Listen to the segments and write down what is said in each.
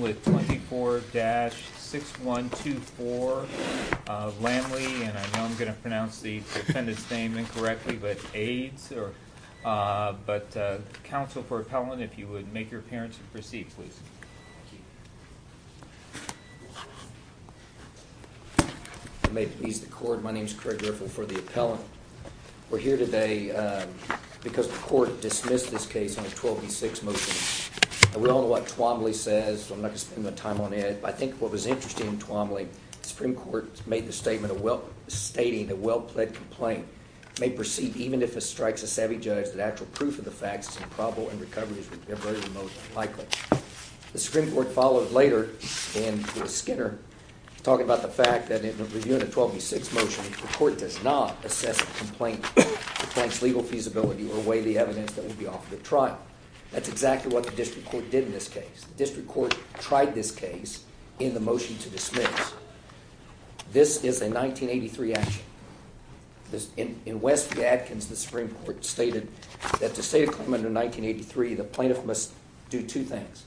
with 24-6124 of Lamley and I know I'm going to pronounce the defendant's name incorrectly but aids or but counsel for appellant if you would make your appearance and proceed please may please the court my name is Craig riffle for the appellant we're here today because the court dismissed this case on a 12v6 motion we all know what Womley says I'm not gonna spend my time on it I think what was interesting in Twombly Supreme Court made the statement of well stating a well-played complaint may proceed even if it strikes a savvy judge that actual proof of the facts improbable and recoveries most likely the Supreme Court followed later and Skinner talking about the fact that in the review in a 12v6 motion the court does not assess a complaint thanks legal feasibility or weigh the evidence that the trial that's exactly what the district court did in this case district court tried this case in the motion to dismiss this is a 1983 action this in in West the Atkins the Supreme Court stated that to say come under 1983 the plaintiff must do two things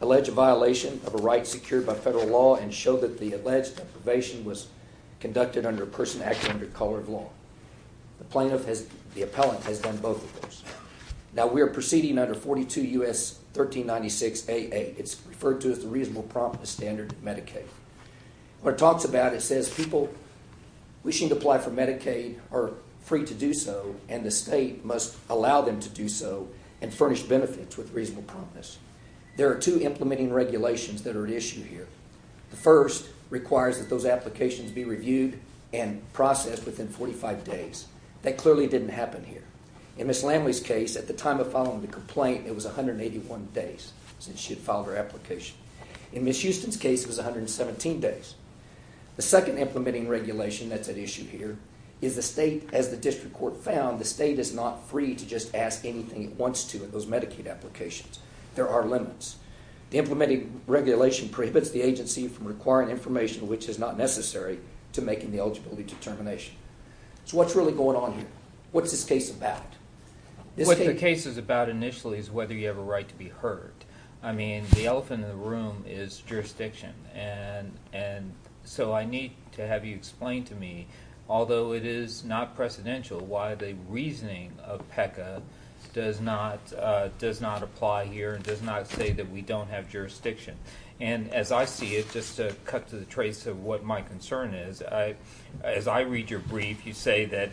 allege a violation of a right secured by federal law and show that the alleged deprivation was conducted under a person plaintiff has the appellant has done both now we're proceeding under 42 u.s. 1396 a it's referred to as the reasonable promise standard Medicaid talks about it says people wishing to apply for Medicaid are free to do so and the state must allow them to do so and furnish benefits with reasonable promise there are two implementing regulations that are issued here the first requires that those applications be reviewed and processed within 45 days that clearly didn't happen here in this language case at the time of following the complaint it was 181 days since she had filed her application in this Houston's case was 117 days the second implementing regulation that's an issue here is the state as the district court found the state is not free to just ask anything it wants to those Medicaid applications there are limits the regulation prohibits the agency from requiring information which is not necessary to making the eligibility determination what's really going on what's this case about what the case is about initially is whether you have a right to be heard I mean the elephant in the room is jurisdiction and and so I need to have you explain to me although it is not precedential why the reasoning of PECA does not does not apply here does not say that we don't have jurisdiction and as I see it just to cut to the trace of what my concern is I as I read your brief you say that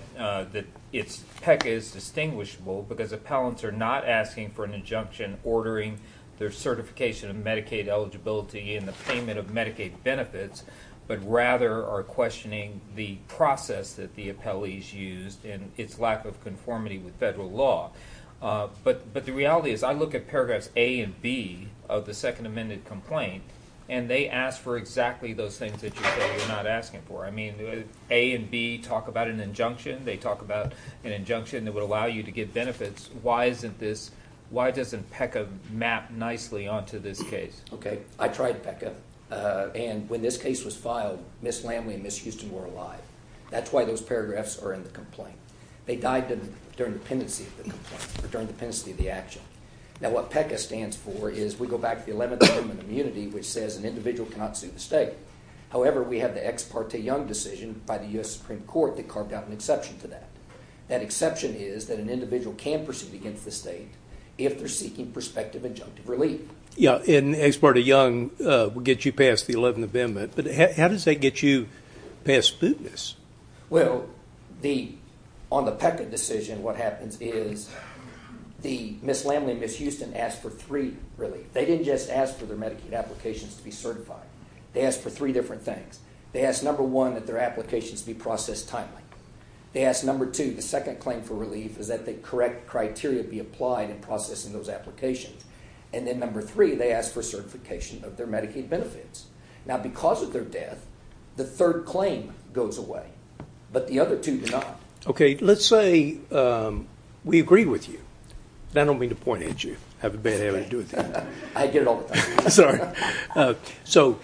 that it's PECA is distinguishable because appellants are not asking for an injunction ordering their certification of Medicaid eligibility in the payment of Medicaid benefits but rather are questioning the process that the appellees used in its lack of conformity with federal law but but the reality is I look at paragraphs A and B of the Second Amendment complaint and they ask for exactly those things that you're not asking for I mean A and B talk about an injunction they talk about an injunction that would allow you to get benefits why isn't this why doesn't PECA map nicely onto this case okay I tried PECA and when this case was filed Miss Lamley and Miss Houston were alive that's why those paragraphs are in the complaint they died during the pendency of the complaint or during the pendency of the action now what PECA stands for is we go back to the 11th Amendment of immunity which says an individual cannot sue the state however we have the Ex Parte Young decision by the US Supreme Court that carved out an exception to that that exception is that an individual can proceed against the state if they're seeking prospective injunctive relief. Yeah and Ex Parte Young will get you past the 11th Amendment but how does that get you past Sputnis? Well the on the PECA decision what happens is the Miss Lamley and Miss Houston asked for three relief they didn't just ask for their Medicaid applications to be certified they asked for three different things they asked number one that their applications be processed timely they asked number two the second claim for relief is that the correct criteria be applied in processing those applications and then number three they asked for certification of their Medicaid benefits now because of their death the third claim goes away but the other two do not Okay let's say we agree with you I don't mean to point at you have a bad habit of doing that. I get it all the time. So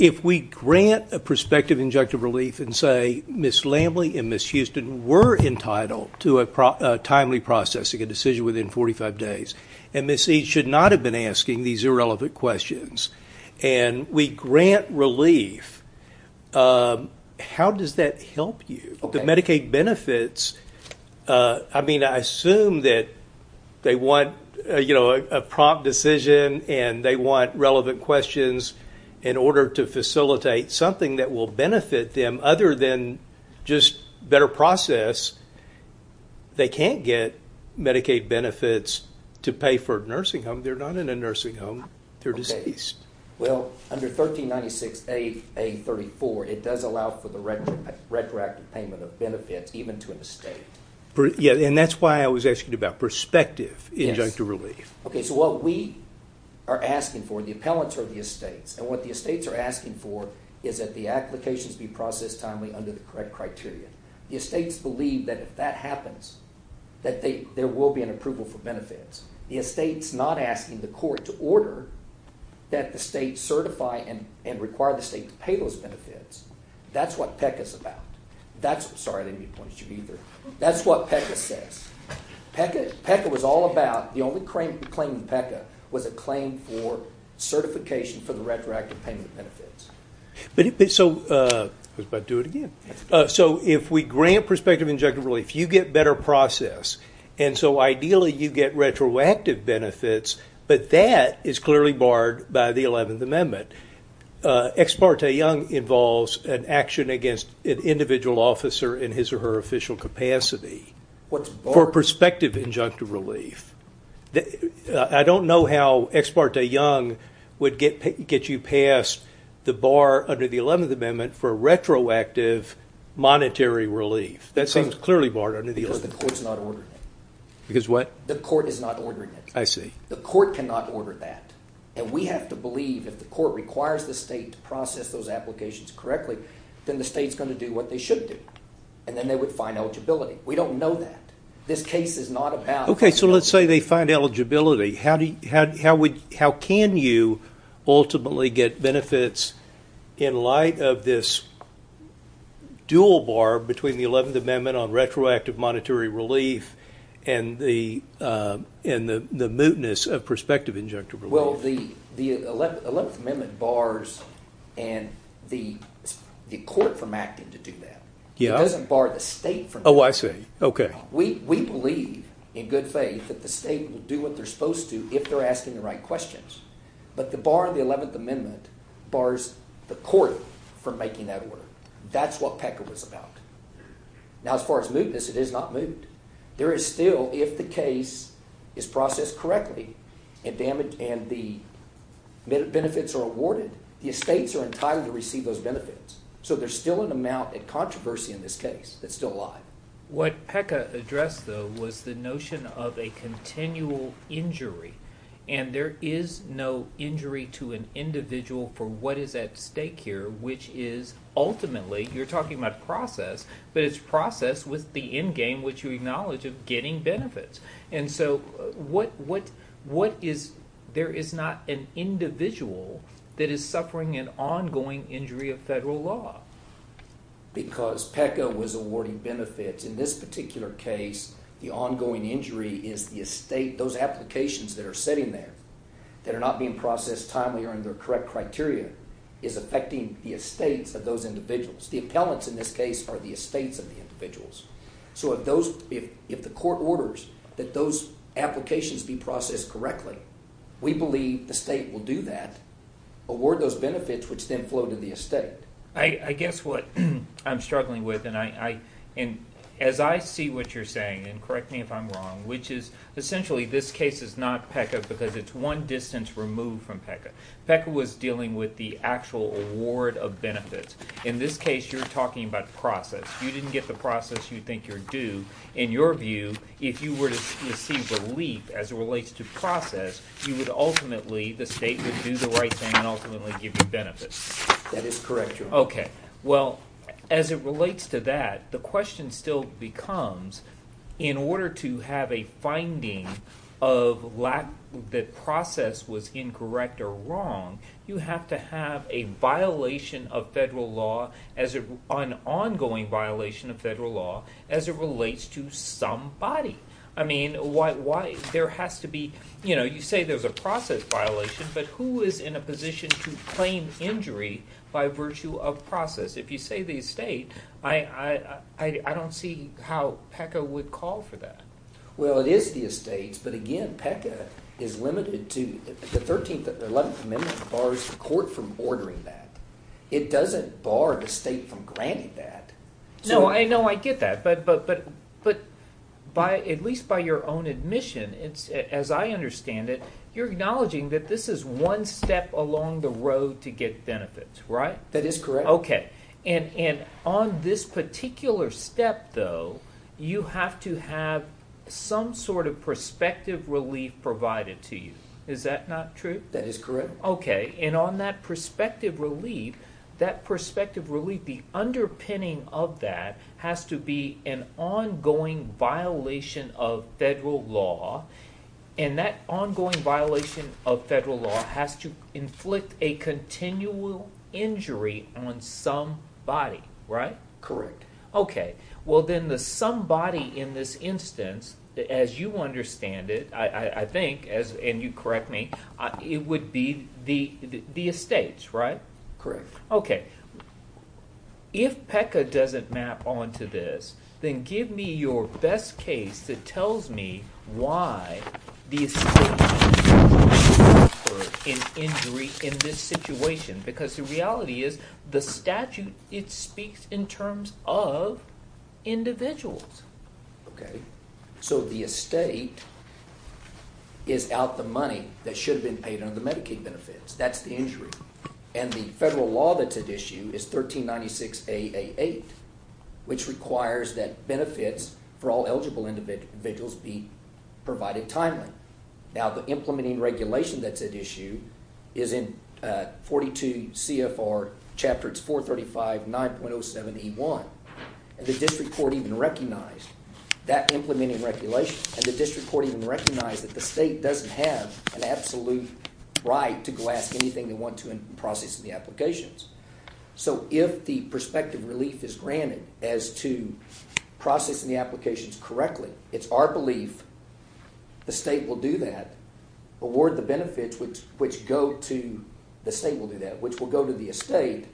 if we grant a prospective injunctive relief and say Miss Lamley and Miss Houston were entitled to a timely processing a decision within 45 days and Miss E should not have been asking these irrelevant questions and we grant relief how does that help you? The Medicaid benefits I mean I assume that they want you know a prompt decision and they want relevant questions in order to facilitate something that will benefit them other than just better process they can't get Medicaid benefits to pay for a nursing home they're not in a nursing home they're deceased. Well under 1396A34 it does allow for the retroactive payment of benefits even to an estate. Yeah and that's why I was asking about prospective injunctive relief. Okay so what we are asking for the appellants are the estates and what the estates are asking for is that the applications be processed timely under the correct criteria the estates believe that if that happens that they there will be an approval for benefits the estates not asking the court to order that the state certify and and require the state to pay those benefits that's what PECA is about that's sorry I didn't mean to point at you either that's what PECA says PECA PECA was all about the only claim in PECA was a claim for certification for the retroactive payment benefits. But so if we grant prospective injunctive relief you get better process and so ideally you get retroactive benefits but that is clearly barred by the 11th Amendment. Ex parte Young involves an action against an individual officer in his or her official capacity for prospective injunctive relief. I don't know how ex parte Young would get get you past the bar under the 11th Amendment for retroactive monetary relief that seems clearly barred under the 11th Amendment. Because the court is not ordering it. I see. The court cannot order that and we have to believe if the court requires the state to process those applications correctly then the state's going to do what they should do and then they would find eligibility we don't know that this case is not about. Okay so let's say they find eligibility how do you how would can you ultimately get benefits in light of this dual bar between the 11th Amendment on retroactive monetary relief and the and the the mootness of prospective injunctive relief? Well the the 11th Amendment bars and the the court from acting to do that. Yeah. It doesn't bar the state from. Oh I see. Okay. We believe in good faith that the state will do what they're supposed to if they're asking the right questions. But the bar in the 11th Amendment bars the court from making that order. That's what PECA was about. Now as far as mootness it is not moot. There is still if the case is processed correctly and damaged and the benefits are awarded the estates are entitled to receive those benefits. So there's still an amount of controversy in this case that's still alive. What And there is no injury to an individual for what is at stake here which is ultimately you're talking about process but it's process with the endgame which you acknowledge of getting benefits. And so what what what is there is not an individual that is suffering an ongoing injury of federal law. Because PECA was awarding benefits in this particular case the ongoing injury is the estate those applications that are sitting there that are not being processed timely or in their correct criteria is affecting the estates of those individuals. The appellants in this case are the estates of the individuals. So if those if the court orders that those applications be processed correctly we believe the state will do that award those benefits which then flow to the estate. I guess what I'm struggling with and I and as I see what you're saying and correct me if I'm wrong which is essentially this case is not PECA because it's one distance removed from PECA. PECA was dealing with the actual award of benefits. In this case you're talking about process. You didn't get the process you think you're due. In your view if you were to see relief as it relates to process you would ultimately the state would do the right thing and ultimately give you benefits. That is correct. Okay well as it relates to that the question still becomes in order to have a finding of lack that process was incorrect or wrong you have to have a violation of federal law as an ongoing violation of federal law as it relates to somebody. I mean why there has to be you know you say there's a process violation but who is in a position to claim injury by virtue of process. If you say the estate I don't see how PECA would call for that. Well it is the estates but again PECA is limited to the 13th and 11th Amendment bars the court from ordering that. It doesn't bar the state from granting that. No I know I get that but but but but by at least by your own admission it's as I understand it you're acknowledging that this is one step along the road to get benefits right? That is correct. Okay and and on this particular step though you have to have some sort of perspective relief provided to you. Is that not true? That is correct. Okay and on that perspective relief that perspective relief the underpinning of that has to be an ongoing violation of federal law and that ongoing violation of federal law has to inflict a continual injury on somebody right? Correct. Okay well then the somebody in this instance as you understand it I I think as and you correct me it would be the the estates right? Correct. Okay if PECA doesn't map on to this then give me your best case that tells me why the estate in injury in this situation because the reality is the statute it speaks in terms of individuals. Okay so the estate is out the money that should have been paid on the Medicaid benefits that's the injury and the federal law that's at issue is 1396 AA 8 which requires that benefits for all eligible individuals be provided timely. Now the implementing regulation that's at issue is in 42 CFR chapter it's 435 9.07 E1 and the district court even recognized that implementing regulation and the district court even recognized that the state doesn't have an absolute right to go ask anything they want to in process of the applications. So if the perspective relief is granted as to processing the applications correctly it's our belief the state will do that award the benefits which which go to the state will do that which will go to the estate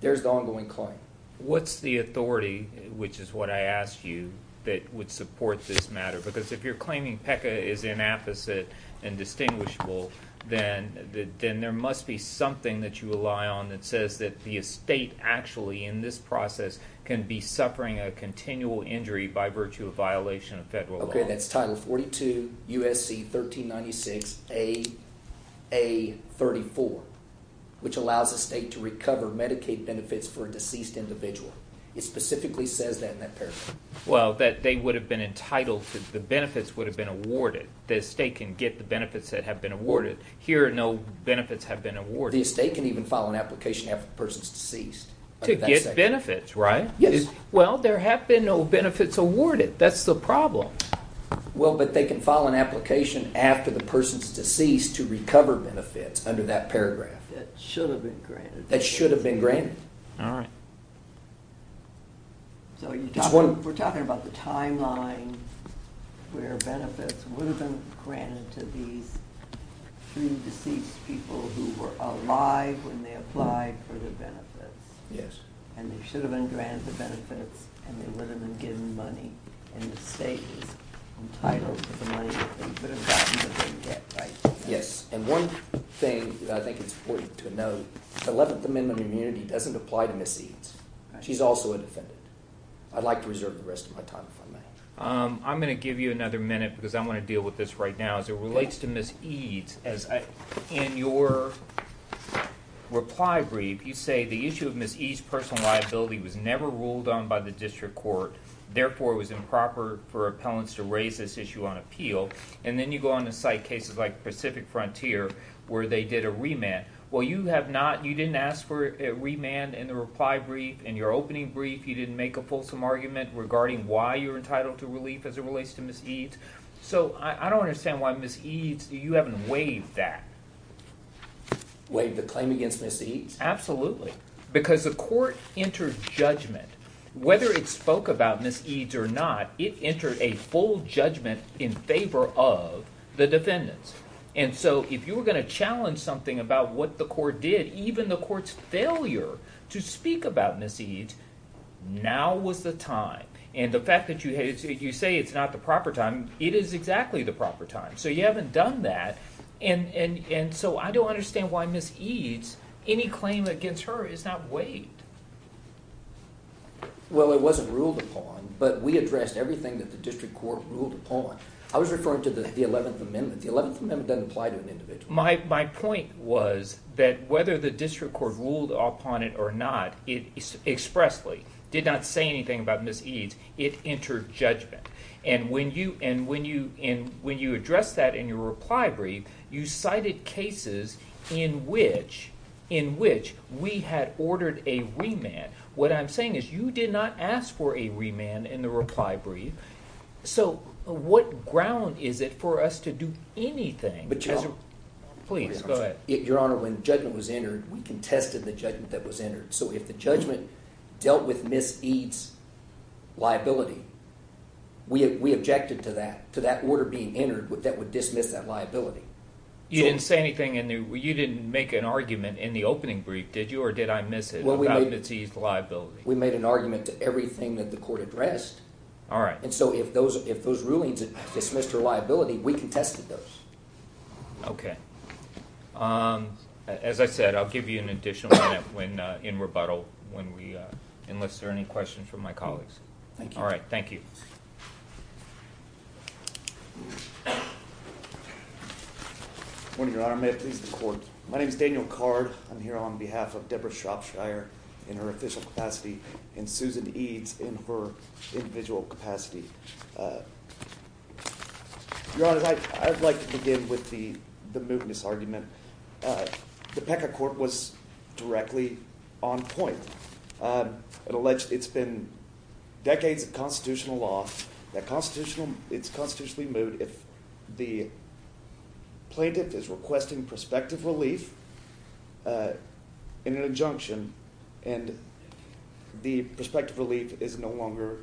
there's the ongoing claim. What's the authority which is what I asked you that would support this matter because if you're claiming PECA is inapposite and distinguishable then then there must be something that you rely on that says that the estate actually in this process can be suffering a continual injury by virtue of violation of federal law. Okay that's title 42 USC 1396 AA 34 which allows the state to recover Medicaid benefits for deceased individual. It specifically says that in that paragraph. Well that they would have been entitled to the benefits would have been awarded. The estate can get the that have been awarded. Here no benefits have been awarded. The estate can even file an application after the person's deceased. To get benefits right? Yes. Well there have been no benefits awarded that's the problem. Well but they can file an application after the person's deceased to recover benefits under that paragraph. That should have been granted. That should have been granted. All right. So we're talking about the timeline where benefits would have been granted to these three deceased people who were alive when they applied for the benefits. Yes. And they should have been granted the benefits and they would have been given money and the state is entitled to the money that they would have gotten that they didn't get. Yes and one thing that I think it's important to note the 11th Amendment immunity doesn't apply to Miss Eades. She's also a defendant. I'd like to reserve the rest of my time if I may. I'm gonna give you another minute because I'm gonna deal with this right now as it relates to Miss Eades. In your reply brief you say the issue of Miss Eades personal liability was never ruled on by the district court therefore it was improper for appellants to raise this issue on appeal and then you go on the site cases like Pacific Frontier where they did a remand. Well you have not you didn't ask for a remand in the reply brief in your opening brief you didn't make a fulsome argument regarding why you're entitled to relief as it relates to Miss Eades. So I don't understand why Miss Eades you haven't waived that. Waived the claim against Miss Eades? Absolutely because the court entered judgment whether it spoke about Miss Eades or not it entered a full judgment in favor of the defendants and so if you were going to challenge something about what the court did even the court's failure to speak about Miss Eades now was the time and the fact that you had you say it's not the proper time it is exactly the proper time so you haven't done that and and and so I don't understand why Miss Eades any claim against her is not waived. Well it wasn't ruled upon but we addressed everything that the district court ruled upon. I was referring to the 11th Amendment. The My point was that whether the district court ruled upon it or not it expressly did not say anything about Miss Eades it entered judgment and when you and when you in when you address that in your reply brief you cited cases in which in which we had ordered a remand. What I'm saying is you did not ask for a remand in the reply brief so what ground is it for us to do anything but you know please go ahead. Your honor when judgment was entered we contested the judgment that was entered so if the judgment dealt with Miss Eades liability we have we objected to that to that order being entered with that would dismiss that liability. You didn't say anything in there you didn't make an argument in the opening brief did you or did I miss it? Well we made an argument to everything that the court addressed. All right. And so if those if those rulings dismissed her liability we contested those. Okay. As I said I'll give you an additional minute when in rebuttal when we enlist or any questions from my colleagues. Thank you. All right. Thank you. Good morning your honor. May it please the court. My name is Daniel Card. I'm here on behalf of Deborah Shropshire in her official capacity and Susan Eades in her individual capacity. Your honor I'd like to begin with the the mootness argument. The PECA court was directly on point. It alleged it's been decades of constitutional law that constitutional it's constitutionally moot if the plaintiff is requesting prospective relief in an injunction and the prospective relief is no longer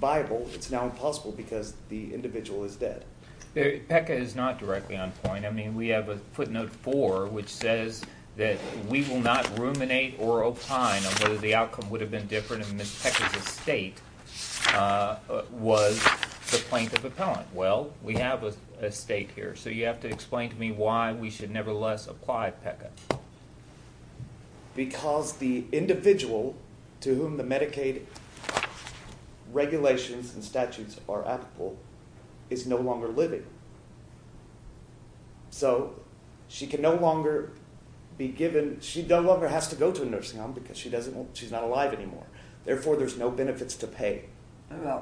viable it's now impossible because the individual is dead. The PECA is not directly on point. I mean we have a footnote four which says that we will not ruminate or opine on whether the outcome would have been different in Ms. PECA's estate was the plaintiff appellant. Well we have a state here so you have to explain to me why we should nevertheless apply PECA. Because the individual to whom the Medicaid regulations and statutes are applicable is no longer living. So she can no longer be given she no longer has to go to a nursing home because she doesn't she's not alive anymore. Therefore there's no benefits to pay. I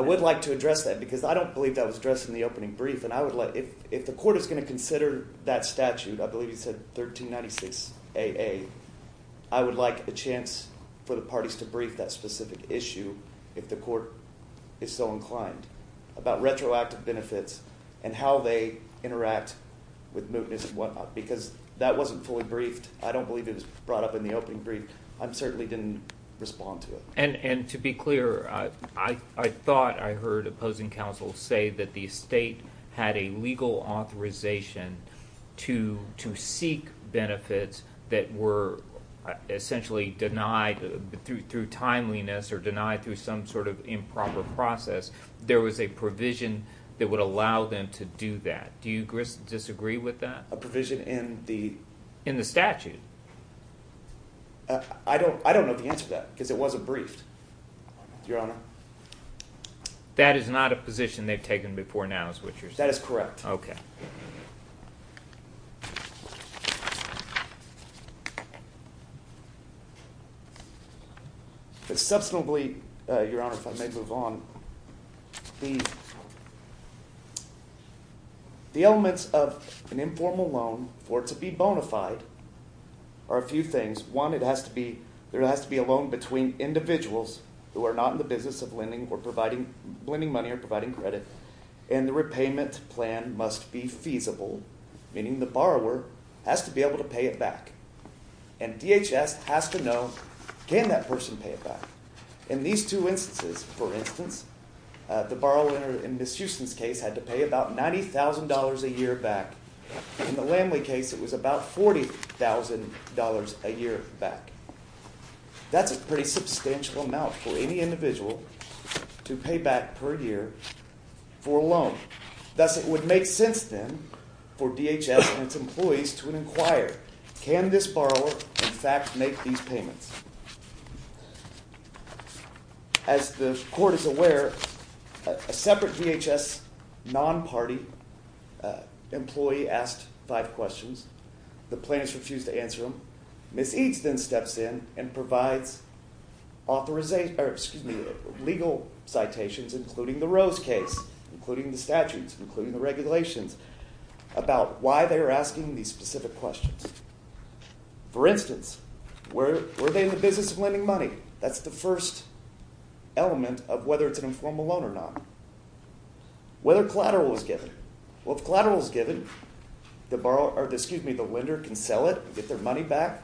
would like to address that because I don't believe that was addressed in the opening brief and I would like if if the court is going to consider that statute I believe you said 1396 AA I would like a chance for the parties to brief that specific issue if the court is so inclined about retroactive benefits and how they interact with mootness and whatnot because that wasn't fully briefed I don't believe it was brought up in the opening brief I'm certainly didn't respond to it. And and to be clear I I thought I heard opposing counsel say that the state had a legal authorization to to seek benefits that were essentially denied through through timeliness or denied through some sort of improper process there was a provision that would allow them to do that. Do you disagree with that? A provision in the in the statute? I don't I don't know the answer that because it wasn't briefed your honor. That is not a position they've taken before now is what you're saying? That is correct. Okay. It's substantively your honor if I may move on the the elements of an informal loan for to be bona fide are a few things one it has to be there has to be a loan between individuals who are not in the business of lending or providing lending money or providing credit and the repayment plan must be feasible meaning the borrower has to be able to pay it back and DHS has to know can that person pay it back in these two instances for instance the borrower in Miss Houston's case had to pay about $90,000 a year back in the Lamley case it was about $40,000 a year back that's a pretty substantial amount for any individual to pay back per year for a loan thus it would make sense then for DHS and its employees to inquire can this borrower in fact make these payments as the court is aware a separate DHS non-party employee asked five questions the plaintiffs refused to answer them Miss Eads then steps in and provides legal citations including the Rose case including the statutes including the regulations about why they are asking these specific questions for instance were they in the business of lending money that's the first element of whether it's an informal loan or not whether collateral was given well if collateral is given the borrower or their money back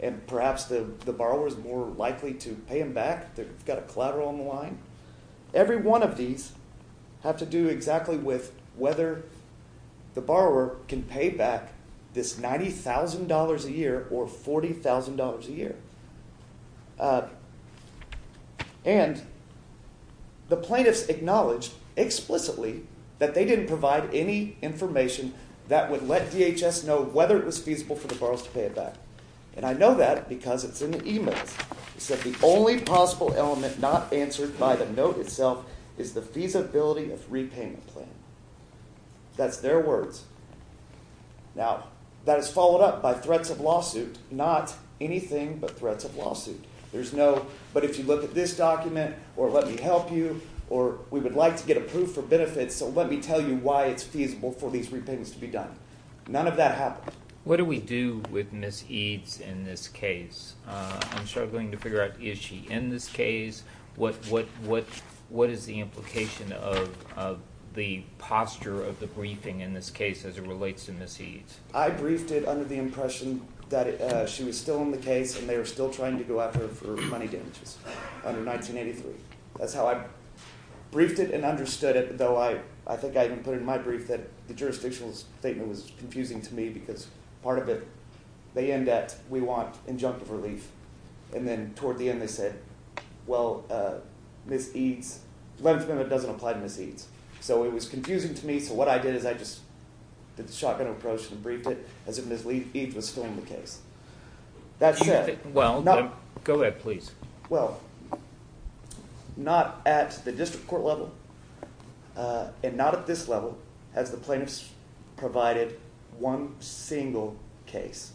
and perhaps the the borrower is more likely to pay them back they've got a collateral on the line every one of these have to do exactly with whether the borrower can pay back this $90,000 a year or $40,000 a year and the plaintiffs acknowledged explicitly that they didn't provide any information that would let DHS know whether it was feasible for the borrower to pay it back and I know that because it's in the email said the only possible element not answered by the note itself is the feasibility of repayment plan that's their words now that is followed up by threats of lawsuit not anything but threats of lawsuit there's no but if you look at this document or let me help you or we would like to get approved for benefits so let me tell you why it's feasible for these repayments to be done none of that happened what do we do with miss Eads in this case I'm struggling to figure out is she in this case what what what what is the implication of the posture of the briefing in this case as it relates to miss Eads I briefed it under the impression that she was still in the case and they are still trying to go at her for money damages under 1983 that's how I briefed it and understood it so I I think I even put in my brief that the jurisdictional statement was confusing to me because part of it they end at we want injunctive relief and then toward the end they said well miss Eads 11th Amendment doesn't apply to miss Eads so it was confusing to me so what I did is I just did the shotgun approach and briefed it as if miss Eads was still in the case that's it well no go ahead please well not at the district court level and not at this level as the plaintiffs provided one single case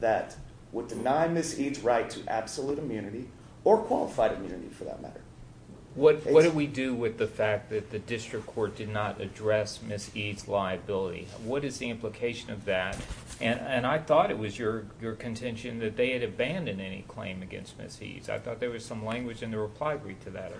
that would deny miss Eads right to absolute immunity or qualified immunity for that matter what what do we do with the fact that the district court did not address miss Eads liability what is the implication of that and and I thought it was your your contention that they had abandoned any claim against miss Eads I thought there was some language in the reply brief to that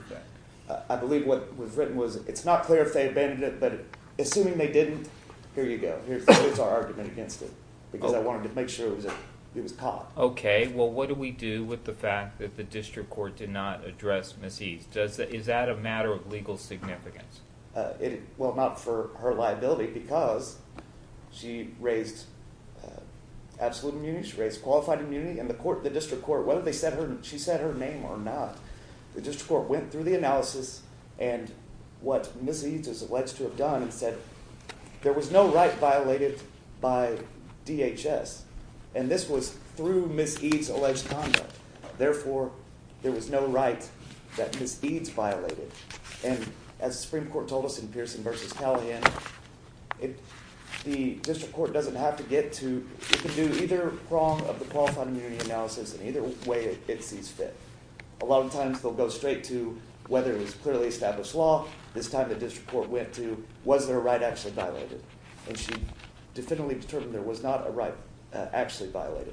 I believe what was written was it's not clear if they abandoned it but assuming they didn't here you go here's our argument against it because I wanted to make sure it was caught okay well what do we do with the fact that the district court did not address miss Eads does that is that a matter of legal significance it well not for her liability because she raised absolute immunity she raised qualified immunity and the court the district court whether they said her and she said her name or not the district court went through the analysis and what miss Eads is alleged to have done and said there was no right violated by DHS and this was through miss Eads alleged conduct therefore there was no right that miss Eads violated and as Supreme Court told in Pearson versus Calhoun it the district court doesn't have to get to do either wrong of the qualified immunity analysis in either way it sees fit a lot of times they'll go straight to whether it was clearly established law this time the district court went to was there a right actually violated and she definitively determined there was not a right actually violated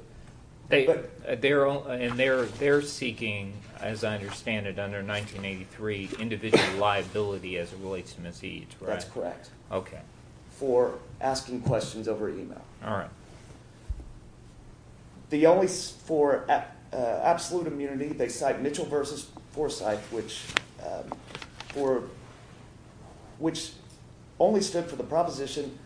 they but they're all in there they're seeking as I understand it under 1983 individual liability as it relates to miss Eads that's correct okay for asking questions over email all right the only for absolute immunity they cite Mitchell versus Forsyth which for which only stood for the proposition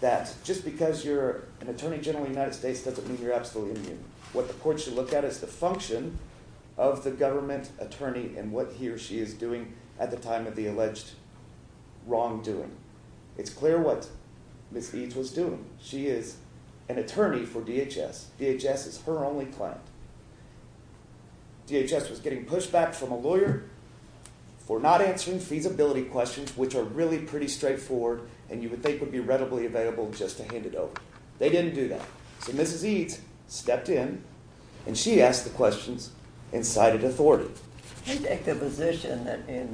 that just because you're an attorney general United States doesn't mean you're absolutely what the court should look at is the function of the government attorney and what he or she is doing at the time of the alleged wrongdoing it's clear what miss Eads was doing she is an attorney for DHS DHS is her only client DHS was getting pushback from a lawyer for not answering feasibility questions which are really pretty straightforward and you would think would be readily available just to hand it over they didn't do that so mrs. Eads stepped in and she asked the questions and cited authority I'm sorry they take the position that in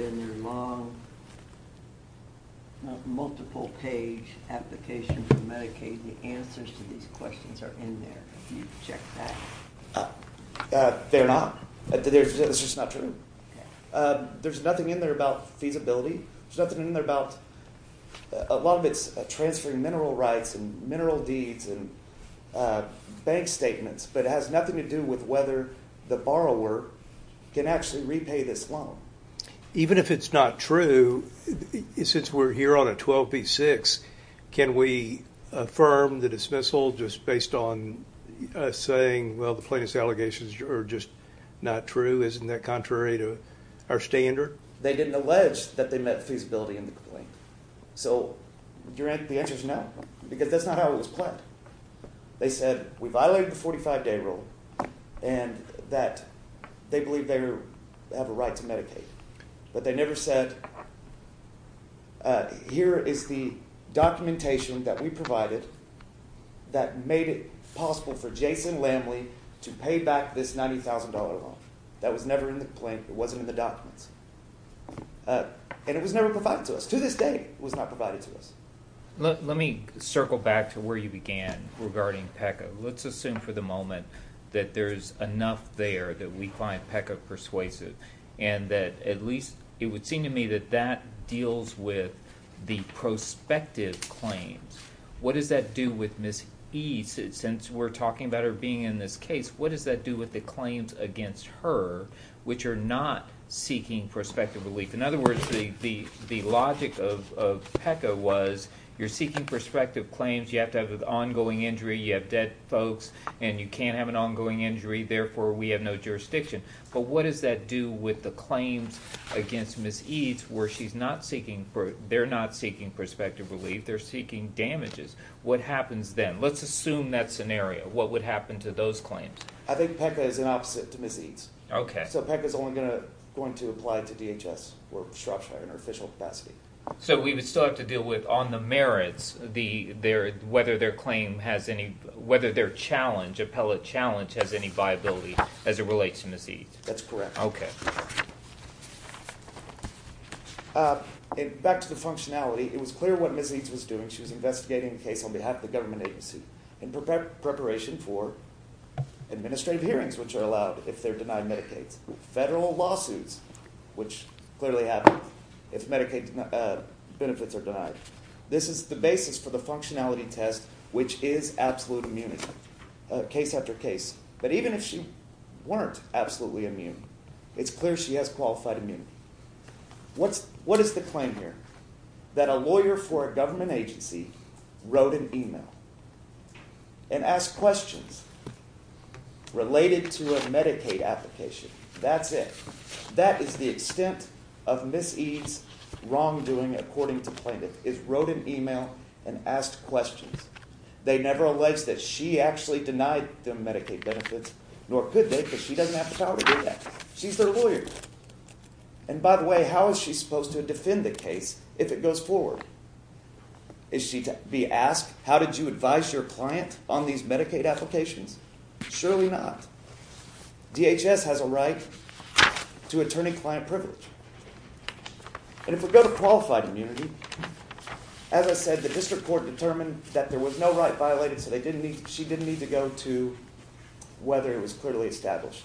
their long multiple page application for Medicaid the answers to these questions are in there they're not there's nothing in there about feasibility there's nothing in there about a lot of its transferring mineral rights and mineral deeds and bank statements but it has nothing to do with whether the borrower can actually repay this loan even if it's not true since we're here on a 12b6 can we affirm the dismissal just based on saying well the plaintiffs allegations are just not true isn't that contrary to our standard they didn't allege that they met feasibility in the complaint so you're at the answers no because that's not how it was planned they said we violated the 45-day rule and that they believe they have a right to Medicaid but they never said here is the documentation that we provided that made it possible for Jason Lamley to pay back this $90,000 loan that was never in the complaint it wasn't in the documents and it was never provided to us to this day was not provided to us let me circle back to where you began regarding PECA let's assume for the moment that there's enough there that we find PECA persuasive and that at least it would seem to me that that deals with the prospective claims what does that do with miss ease it since we're talking about her being in this case what does that do with the claims against her which are not seeking perspective relief in other words the the the logic of PECA was you're seeking perspective claims you have to have an ongoing injury you have dead folks and you can't have an ongoing injury therefore we have no jurisdiction but what does that do with the claims against miss eats where she's not seeking for they're not seeking perspective relief they're seeking damages what happens then let's assume that scenario what would happen to those claims I think PECA is an opposite to miss eats okay so PECA is only gonna going to apply to DHS or Shropshire in our official capacity so we would still have to deal with on the merits the there whether their claim has any whether their challenge appellate challenge has any viability as it relates to miss eat that's correct okay it back to the functionality it was clear what miss eats was doing she was investigating the case on behalf of the government agency and prepared preparation for administrative hearings which are allowed if they're denied Medicaid's federal lawsuits which clearly happen if Medicaid benefits are denied this is the basis for the functionality test which is absolute immunity case after case but even if she weren't absolutely immune it's clear she has qualified immunity what's what is the claim here that a lawyer for a questions related to a Medicaid application that's it that is the extent of miss EADS wrongdoing according to plaintiff is wrote an email and asked questions they never alleged that she actually denied the Medicaid benefits nor could they because she doesn't have a child she's their lawyer and by the way how is she supposed to defend the case if it goes forward is she to be how did you advise your client on these Medicaid applications surely not DHS has a right to attorney-client privilege and if we go to qualified immunity as I said the district court determined that there was no right violated so they didn't need she didn't need to go to whether it was clearly established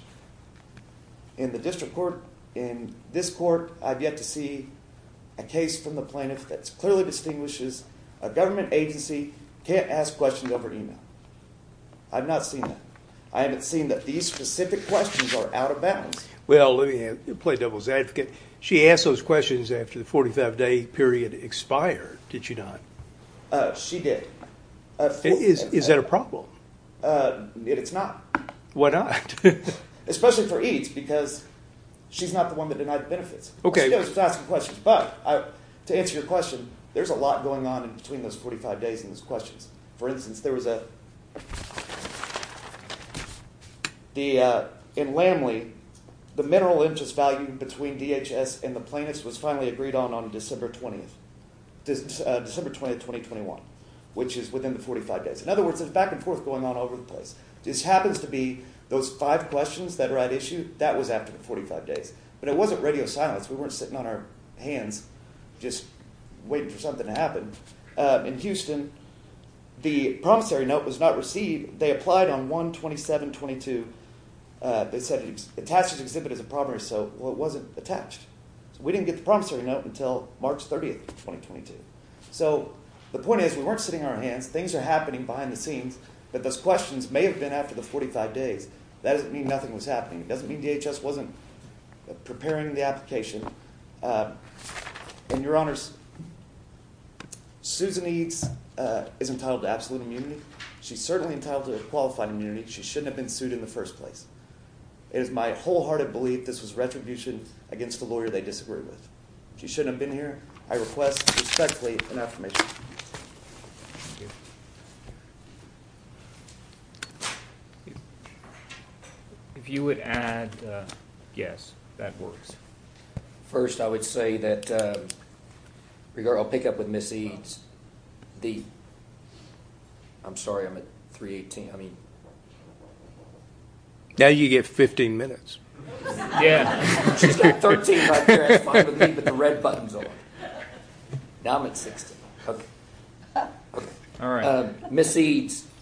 in the district court in this court I've yet to see a case from the plaintiff that's clearly distinguishes a government agency can't ask questions over email I've not seen that I haven't seen that these specific questions are out of bounds well let me play devil's advocate she asked those questions after the 45-day period expired did she not she did is that a problem it's not what I especially for EADS because she's not the one that denied benefits okay but to answer your question there's a lot going on between those 45 days and questions for instance there was a the in Lamley the mineral interest value between DHS and the plaintiffs was finally agreed on on December 20th this December 20th 2021 which is within the 45 days in other words it's back and forth going on over the place this happens to be those five questions that right issue that was after 45 days but it wasn't radio silence we weren't sitting on our hands just waiting for something to happen in Houston the promissory note was not received they applied on 127 22 they said it's attached to exhibit as a property so what wasn't attached so we didn't get the promissory note until March 30th 2022 so the point is we weren't sitting on our hands things are happening behind the scenes but those questions may have been after the 45 days that doesn't mean nothing was happening it doesn't mean DHS wasn't preparing the application and your honors Susan eats is entitled to absolute immunity she's certainly entitled to a qualified immunity she shouldn't have been sued in the first place it is my wholehearted belief this was retribution against the lawyer they disagreed with she shouldn't have been I request respectfully an affirmation if you would add yes that works first I would say that regard I'll pick up with Missy's the I'm sorry I'm at 318 I mean now you get 15 minutes Missy's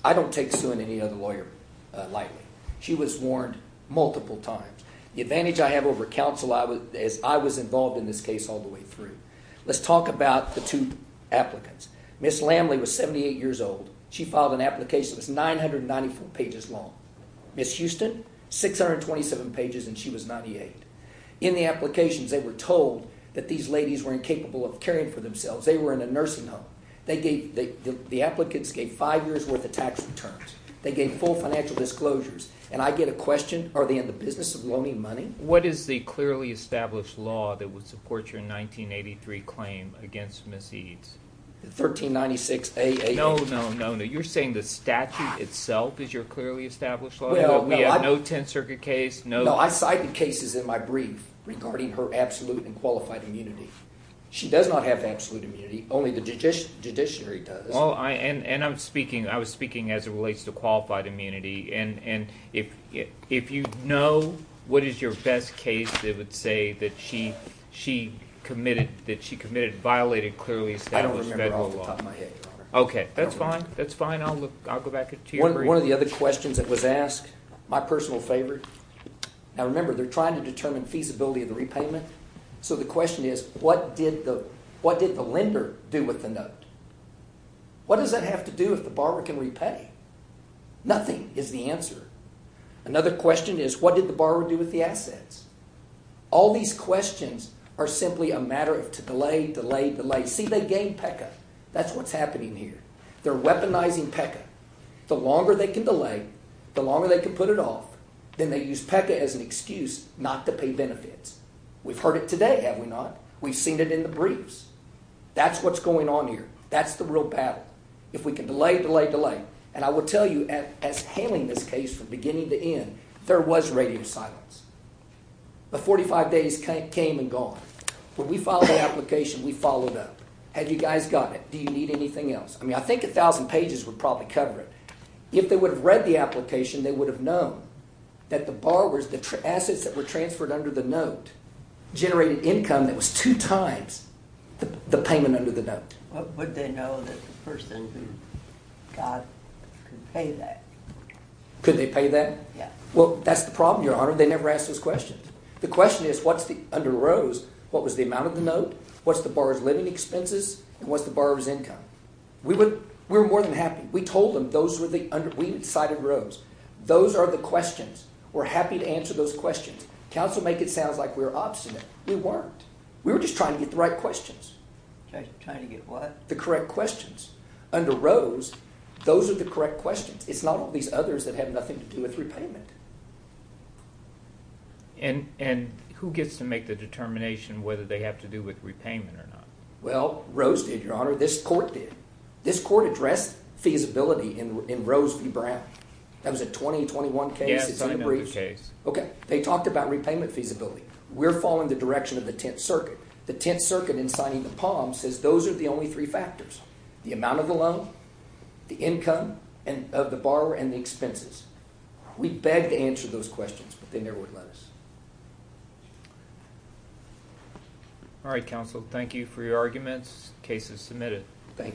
I don't take suing any other lawyer lightly she was warned multiple times the advantage I have over counsel I was as I was involved in this case all the way through let's talk about the two applicants miss Lamley was 78 years old she filed an application was 994 pages long miss Houston 627 pages and she was 98 in the applications they were told that these ladies were incapable of caring for themselves they were in a nursing home they gave the applicants gave five years worth of tax returns they gave full financial disclosures and I get a question are they in the business of loaning money what is the clearly established law that would support your 1983 claim against miss Eads 1396 a no no no no you're saying the statute itself is your clearly established we have no 10th Circuit case no I cited cases in my brief regarding her absolute and qualified immunity she does not have absolute immunity only the judiciary does well I and and I'm speaking I was speaking as it relates to qualified immunity and and if if you know what is your best case they would say that she she committed that she violated clearly okay that's fine that's fine I'll go back to you one of the other questions that was asked my personal favorite now remember they're trying to determine feasibility of the repayment so the question is what did the what did the lender do with the note what does that have to do if the borrower can repay nothing is the answer another question is what did the borrower do with the assets all these questions are simply a matter of to delay delay delay see they gain PECA that's what's happening here they're weaponizing PECA the longer they can delay the longer they can put it off then they use PECA as an excuse not to pay benefits we've heard it today have we not we've seen it in the briefs that's what's going on here that's the real battle if we can delay delay delay and I will tell you as hailing this case from beginning to end there was radio silence the 45 days came and gone when we filed an application we followed up had you guys got it do you need anything else I mean I think a thousand pages would probably cover it if they would have read the application they would have known that the borrowers the assets that were transferred under the note generated income that was two times the payment under the note could they pay that yeah well that's the problem your honor they never asked those questions the question is what's the under Rose what was the amount of the note what's the borrower's living expenses and what's the borrower's income we would we're more than happy we told them those were the under we decided Rose those are the questions we're happy to answer those questions counsel make it sounds like we were obstinate we weren't we were just trying to get the right questions trying to get what the correct questions under Rose those are the correct questions it's not all these others that have nothing to do with repayment and and who gets to make the determination whether they have to do with repayment or not well Rose did your honor this court did this court addressed feasibility in Rose v Brown that was a 2021 case it's a brief case okay they talked about repayment feasibility we're following the direction of the Tenth Circuit the Tenth Circuit in signing the Palm says those are the only three factors the amount of the loan the income and of the borrower and the expenses we beg to answer those questions but they never would let us all right counsel thank you for your arguments cases submitted thank